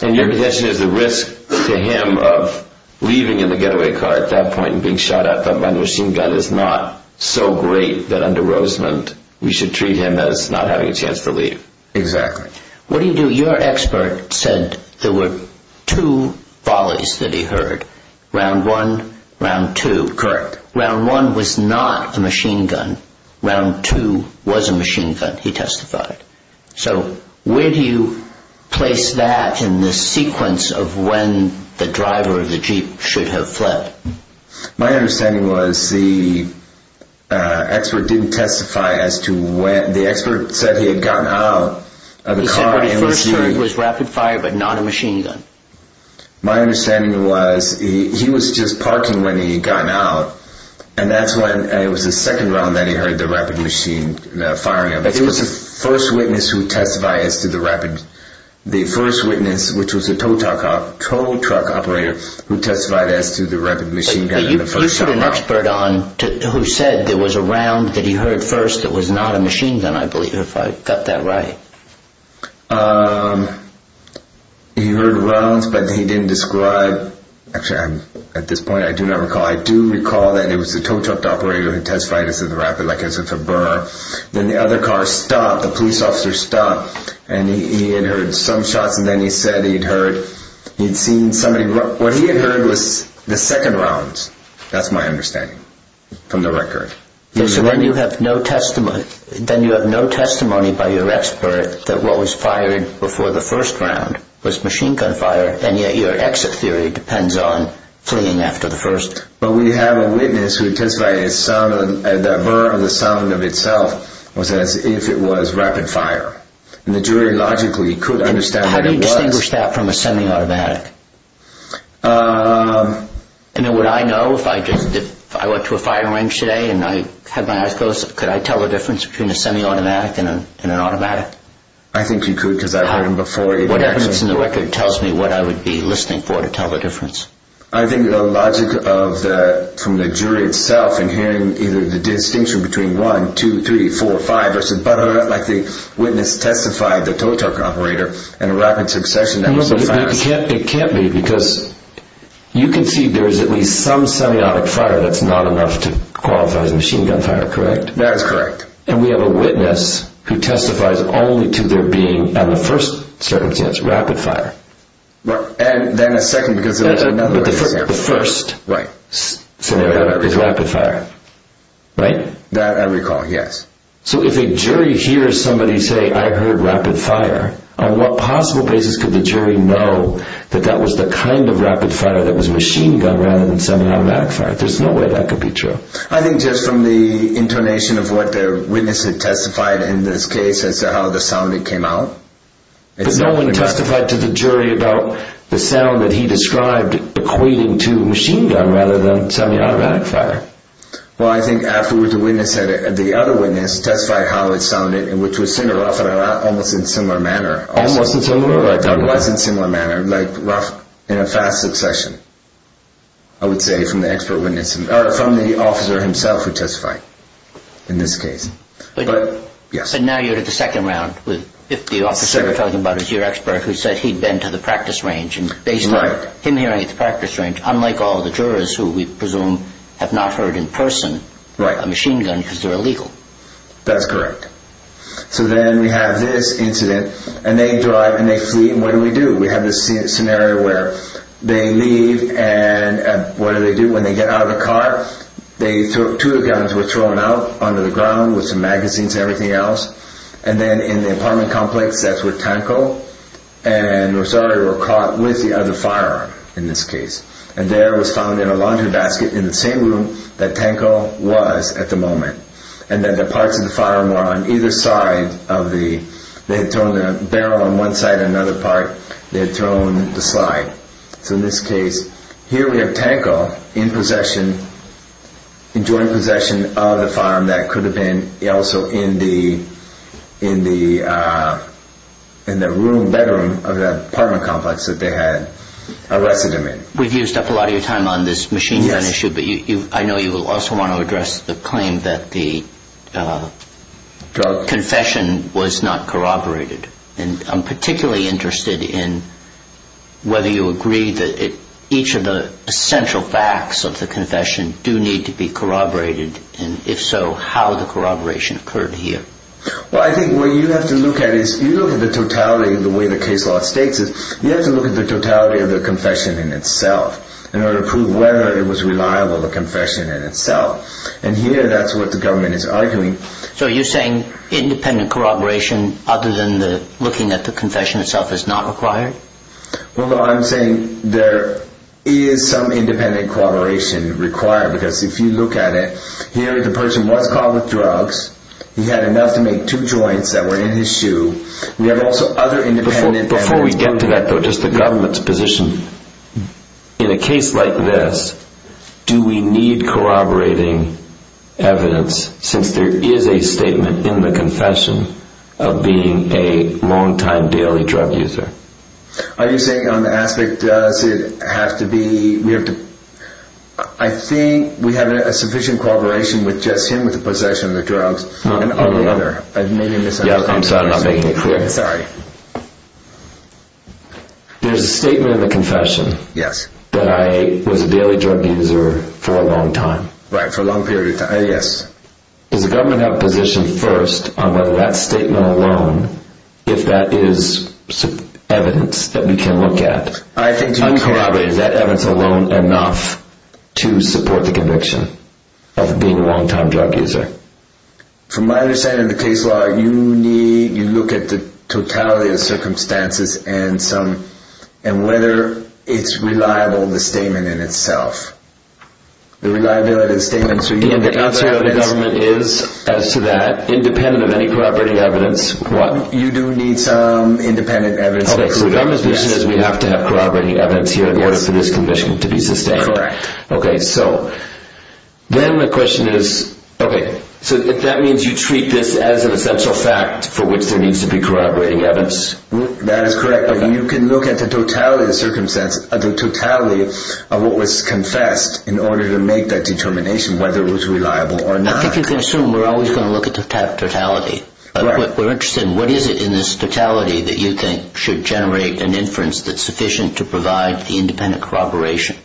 And your position is the risk to him of leaving in the getaway car at that point and being shot at by the machine gun is not so great that under Rosamond, we should treat him as not having a chance to leave. Exactly. What do you do? Your expert said there were two volleys that he heard. Round one, round two. Correct. Round one was not a machine gun. Round two was a machine gun, he testified. So where do you place that in the sequence of when the driver of the Jeep should have fled? My understanding was the expert didn't testify as to when. The expert said he had gotten out of the car. He said what he first heard was rapid fire but not a machine gun. My understanding was he was just parking when he had gotten out. And that's when it was the second round that he heard the rapid machine firing at him. It was the first witness who testified as to the rapid. The first witness, which was a tow truck operator, who testified as to the rapid machine gun in the first round. But you put an expert on who said there was a round that he heard first that was not a machine gun, I believe, if I got that right. He heard rounds but he didn't describe. Actually, at this point I do not recall. I do recall that it was the tow truck operator who testified as to the rapid, like I said, for Burr. Then the other car stopped, the police officer stopped, and he had heard some shots. And then he said he had seen somebody. What he had heard was the second rounds. That's my understanding from the record. So then you have no testimony by your expert that what was fired before the first round was machine gun fire. And yet your exit theory depends on fleeing after the first. But we have a witness who testified that the Burr of the sound of itself was as if it was rapid fire. And the jury logically could understand what it was. How do you distinguish that from a semi-automatic? Would I know if I went to a firing range today and I had my eyes closed? Could I tell the difference between a semi-automatic and an automatic? I think you could because I've heard them before. What evidence in the record tells me what I would be listening for to tell the difference? I think the logic from the jury itself in hearing either the distinction between 1, 2, 3, 4, 5 versus Burr, like the witness testified, the tow truck operator, and a rapid succession. It can't be because you can see there is at least some semi-automatic fire that's not enough to qualify as machine gun fire, correct? That is correct. And we have a witness who testifies only to there being, in the first circumstance, rapid fire. And then a second because there was another example. The first scenario is rapid fire, right? That I recall, yes. So if a jury hears somebody say, I heard rapid fire, on what possible basis could the jury know that that was the kind of rapid fire that was machine gun rather than semi-automatic fire? There's no way that could be true. I think just from the intonation of what the witness had testified in this case as to how the sound came out. But no one testified to the jury about the sound that he described equating to machine gun rather than semi-automatic fire. Well, I think afterwards the other witness testified how it sounded, which was similar, rough, and almost in similar manner. Almost in similar manner. It was in similar manner, like rough in a fast succession, I would say from the expert witness. Or from the officer himself who testified in this case. But now you're at the second round. If the officer you're talking about is your expert who said he'd been to the practice range, and based on him hearing at the practice range, unlike all the jurors who we presume have not heard in person a machine gun because they're illegal. That's correct. So then we have this incident, and they drive and they flee, and what do we do? We have this scenario where they leave, and what do they do when they get out of the car? Two of the guns were thrown out onto the ground with some magazines and everything else. And then in the apartment complex, that's where Tanko and Rosario were caught with the other firearm in this case. And there it was found in a laundry basket in the same room that Tanko was at the moment. And then the parts of the firearm were on either side of the, they had thrown the barrel on one side and another part, they had thrown the slide. So in this case, here we have Tanko in possession, in joint possession of the firearm that could have been also in the room, bedroom of the apartment complex that they had arrested him in. We've used up a lot of your time on this machine gun issue, but I know you will also want to address the claim that the confession was not corroborated. And I'm particularly interested in whether you agree that each of the essential facts of the confession do need to be corroborated, and if so, how the corroboration occurred here. Well, I think what you have to look at is, if you look at the totality of the way the case law states it, you have to look at the totality of the confession in itself, in order to prove whether it was reliable, the confession in itself. And here, that's what the government is arguing. So you're saying independent corroboration, other than looking at the confession itself, is not required? Well, no, I'm saying there is some independent corroboration required, because if you look at it, here the person was caught with drugs, he had enough to make two joints that were in his shoe, we have also other independent... Are you saying on the aspect, does it have to be... I think we have a sufficient corroboration with just him with the possession of the drugs, and other... Yeah, I'm sorry, I'm not making it clear. Sorry. There's a statement in the confession, that I was a daily drug user for a long time. Right, for a long period of time, yes. Does the government have a position, first, on whether that statement alone, if that is evidence that we can look at... I think... ...is that evidence alone enough to support the conviction of being a long time drug user? From my understanding of the case law, you need... you look at the totality of circumstances, and some... and whether it's reliable, the statement in itself. The reliability of the statement... The answer of the government is, as to that, independent of any corroborating evidence, what? You do need some independent evidence... Okay, so the government's position is we have to have corroborating evidence here in order for this conviction to be sustained. Correct. Okay, so, then the question is, okay, so that means you treat this as an essential fact for which there needs to be corroborating evidence? That is correct, but you can look at the totality of circumstances, the totality of what was confessed in order to make that determination, whether it was reliable or not. I think you can assume we're always going to look at the totality. Right. We're interested in what is it in this totality that you think should generate an inference that's sufficient to provide the independent corroboration?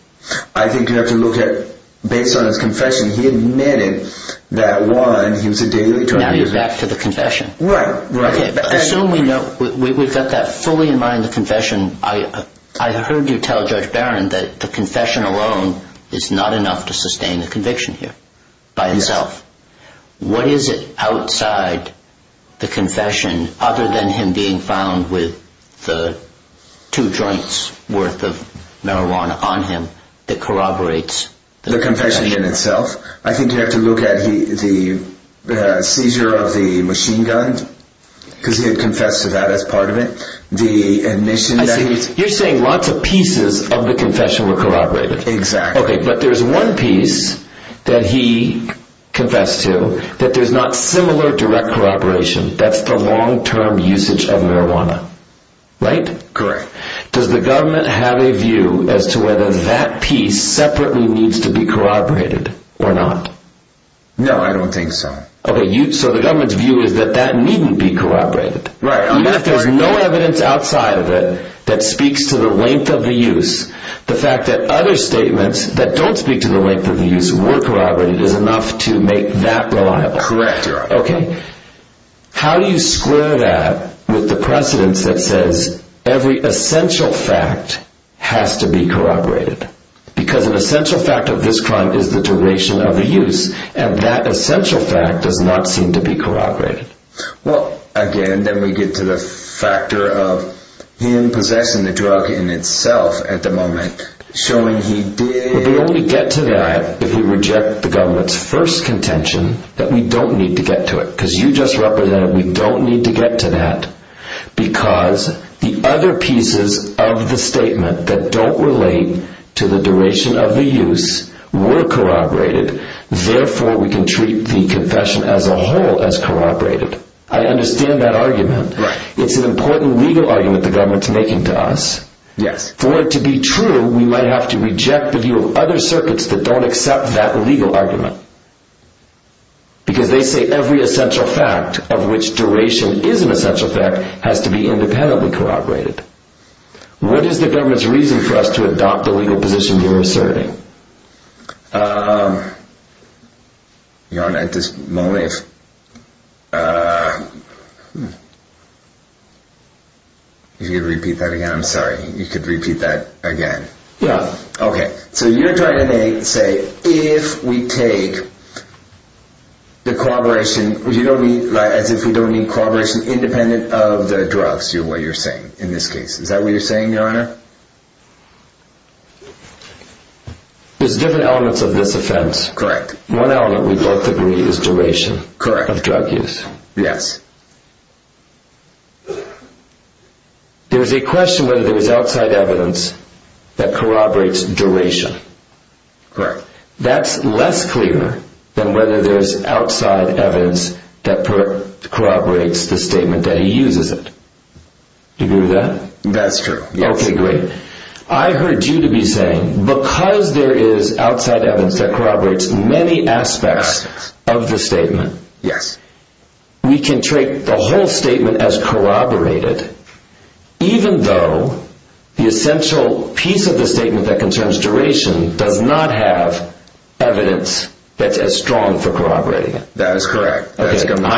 I think you have to look at, based on his confession, he admitted that, one, he was a daily drug user... Now you're back to the confession. Right, right. Okay, but assume we know, we've got that fully in mind, the confession. I heard you tell Judge Barron that the confession alone is not enough to sustain the conviction here by itself. What is it outside the confession, other than him being found with the two joints worth of marijuana on him, that corroborates the confession? I think you have to look at the seizure of the machine gun, because he had confessed to that as part of it. You're saying lots of pieces of the confession were corroborated? Exactly. Okay, but there's one piece that he confessed to that there's not similar direct corroboration. That's the long-term usage of marijuana, right? Correct. Does the government have a view as to whether that piece separately needs to be corroborated or not? No, I don't think so. Okay, so the government's view is that that needn't be corroborated. Right. Even if there's no evidence outside of it that speaks to the length of the use, the fact that other statements that don't speak to the length of the use were corroborated is enough to make that reliable. Correct. Okay. How do you square that with the precedence that says every essential fact has to be corroborated? Because an essential fact of this crime is the duration of the use, and that essential fact does not seem to be corroborated. Well, again, then we get to the factor of him possessing the drug in itself at the moment, showing he did... Because you just represented we don't need to get to that because the other pieces of the statement that don't relate to the duration of the use were corroborated, therefore we can treat the confession as a whole as corroborated. I understand that argument. Right. It's an important legal argument the government's making to us. Yes. For it to be true, we might have to reject the view of other circuits that don't accept that legal argument. Because they say every essential fact of which duration is an essential fact has to be independently corroborated. What is the government's reason for us to adopt the legal position you're asserting? If you could repeat that again, I'm sorry. You could repeat that again. Yeah. Okay. So you're trying to say if we take the corroboration, as if we don't need corroboration independent of the drugs, is what you're saying in this case. Is that what you're saying, Your Honor? There's different elements of this offense. Correct. One element we both agree is duration of drug use. Correct. Yes. There's a question whether there's outside evidence that corroborates duration. Correct. That's less clear than whether there's outside evidence that corroborates the statement that he uses it. Do you agree with that? That's true. Yes. Okay, great. I heard you to be saying because there is outside evidence that corroborates many aspects of the statement, Yes. we can treat the whole statement as corroborated even though the essential piece of the statement that concerns duration does not have evidence that's as strong for corroborating it. That is correct. I'm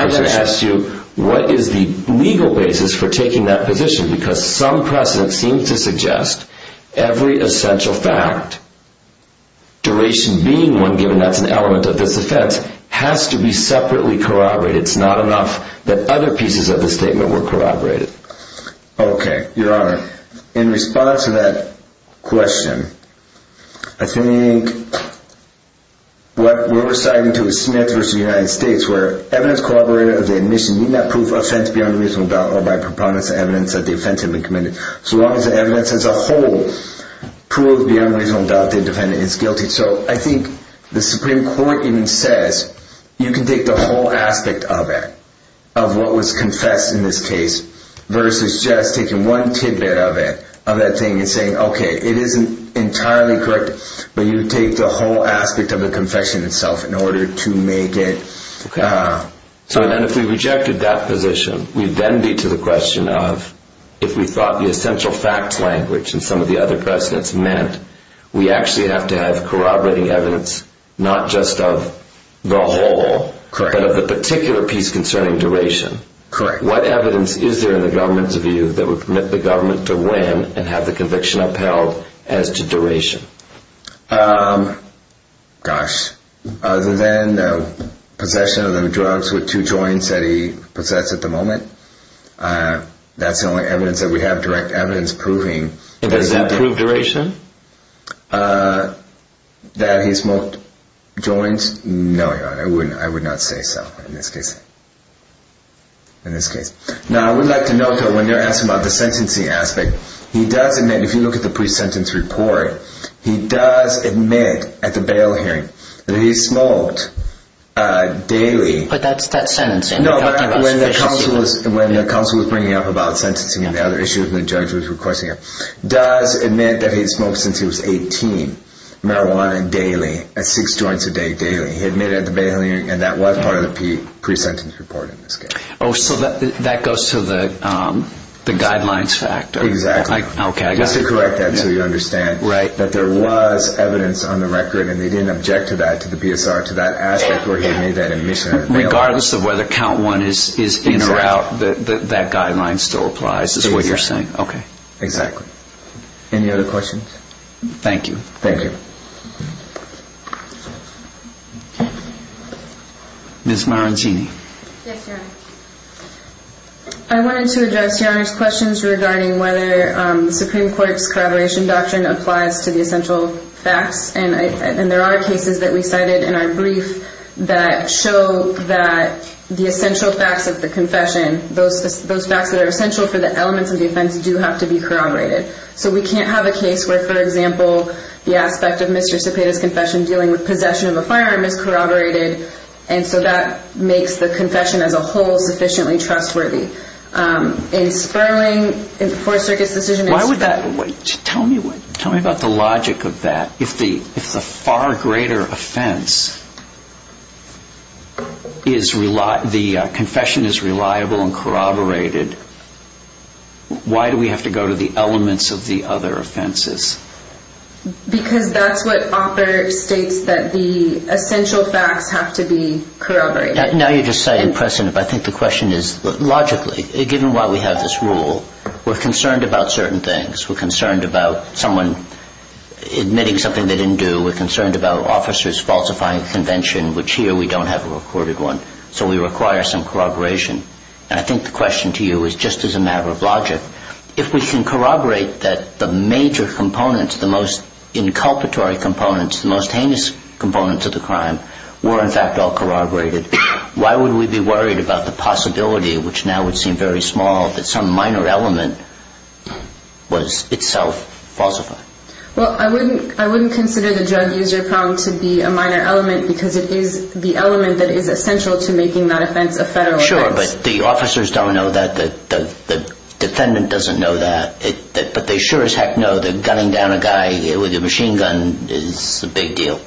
going to ask you what is the legal basis for taking that position because some precedent seems to suggest every essential fact, duration being one given that's an element of this offense, has to be separately corroborated. It's not enough that other pieces of the statement were corroborated. Okay, Your Honor. In response to that question, I think what we're reciting to Smith v. United States where evidence corroborated of the admission need not prove offense beyond a reasonable doubt or by preponderance of evidence that the offense had been committed, so long as the evidence as a whole proves beyond a reasonable doubt the defendant is guilty. So I think the Supreme Court even says you can take the whole aspect of it, of what was confessed in this case, versus just taking one tidbit of it, of that thing and saying, okay, it isn't entirely correct, but you take the whole aspect of the confession itself in order to make it. So then if we rejected that position, we'd then be to the question of if we thought the essential facts language and some of the other precedents meant we actually have to have corroborating evidence, not just of the whole, but of the particular piece concerning duration. Correct. What evidence is there in the government's view that would permit the government to win and have the conviction upheld as to duration? Gosh, other than possession of the drugs with two joints that he possess at the moment, that's the only evidence that we have direct evidence proving. Does that prove duration? That he smoked joints? No, Your Honor, I would not say so in this case. In this case. Now, I would like to note that when they're asking about the sentencing aspect, he does admit, if you look at the pre-sentence report, he does admit at the bail hearing that he smoked daily. But that's that sentencing. No, Your Honor, when the counsel was bringing up about sentencing and other issues and the judge was requesting it, does admit that he'd smoked since he was 18 marijuana daily, at six joints a day daily. He admitted at the bail hearing and that was part of the pre-sentence report in this case. Oh, so that goes to the guidelines factor. Exactly. Okay, I got it. Just to correct that so you understand that there was evidence on the record and they didn't object to that, to the PSR, to that aspect where he made that admission at the bail hearing. Regardless of whether count one is in or out, that guideline still applies, is what you're saying. Exactly. Any other questions? Thank you. Thank you. Ms. Marantini. Yes, Your Honor. I wanted to address Your Honor's questions regarding whether the Supreme Court's corroboration doctrine applies to the essential facts. And there are cases that we cited in our brief that show that the essential facts of the confession, those facts that are essential for the elements of the offense do have to be corroborated. So we can't have a case where, for example, the aspect of Mr. Cepeda's confession dealing with possession of a firearm is corroborated. And so that makes the confession as a whole sufficiently trustworthy. In Sperling, in the Fourth Circuit's decision in Sperling. Why would that? Tell me about the logic of that. If the far greater offense, the confession is reliable and corroborated, why do we have to go to the elements of the other offenses? Because that's what author states that the essential facts have to be corroborated. Now you're just citing precedent, but I think the question is logically, given why we have this rule, we're concerned about certain things. We're concerned about someone admitting something they didn't do. We're concerned about officers falsifying a convention, which here we don't have a recorded one. So we require some corroboration. And I think the question to you is just as a matter of logic. If we can corroborate that the major components, the most inculpatory components, the most heinous components of the crime were in fact all corroborated, why would we be worried about the possibility, which now would seem very small, that some minor element was itself falsified? Well, I wouldn't consider the drug user prong to be a minor element because it is the element that is essential to making that offense a federal offense. Sure, but the officers don't know that. The defendant doesn't know that. But they sure as heck know that gunning down a guy with a machine gun is a big deal.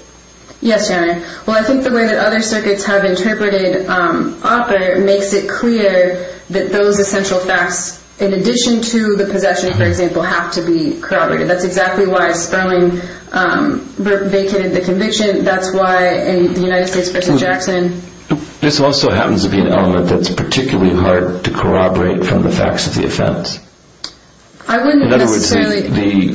Yes, Your Honor. Well, I think the way that other circuits have interpreted OPER makes it clear that those essential facts, in addition to the possession, for example, have to be corroborated. That's exactly why Sperling vacated the conviction. That's why in the United States v. Jackson. This also happens to be an element that's particularly hard to corroborate from the facts of the offense. I wouldn't necessarily.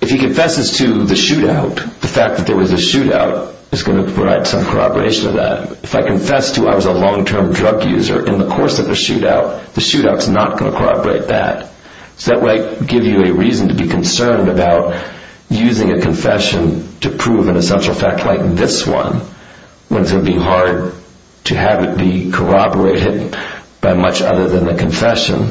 If he confesses to the shootout, the fact that there was a shootout is going to provide some corroboration of that. If I confess to I was a long-term drug user in the course of the shootout, the shootout is not going to corroborate that. So that would give you a reason to be concerned about using a confession to prove an essential fact like this one, when it's going to be hard to have it be corroborated by much other than the confession,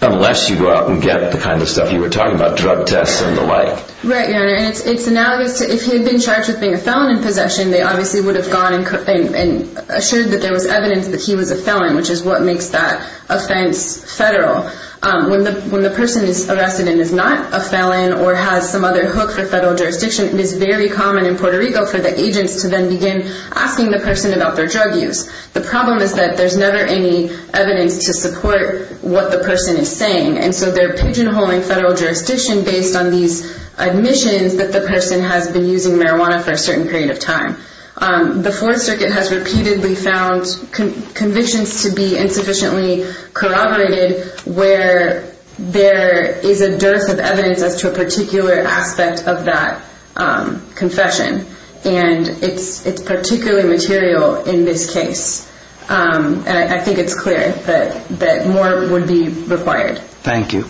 unless you go out and get the kind of stuff you were talking about, drug tests and the like. Right, Your Honor. And it's analogous to if he had been charged with being a felon in possession, they obviously would have gone and assured that there was evidence that he was a felon, which is what makes that offense federal. When the person is arrested and is not a felon or has some other hook for federal jurisdiction, it is very common in Puerto Rico for the agents to then begin asking the person about their drug use. The problem is that there's never any evidence to support what the person is saying, and so they're pigeonholing federal jurisdiction based on these admissions that the person has been using marijuana for a certain period of time. The Fourth Circuit has repeatedly found convictions to be insufficiently corroborated where there is a dearth of evidence as to a particular aspect of that confession, and it's particularly material in this case. I think it's clear that more would be required. Thank you.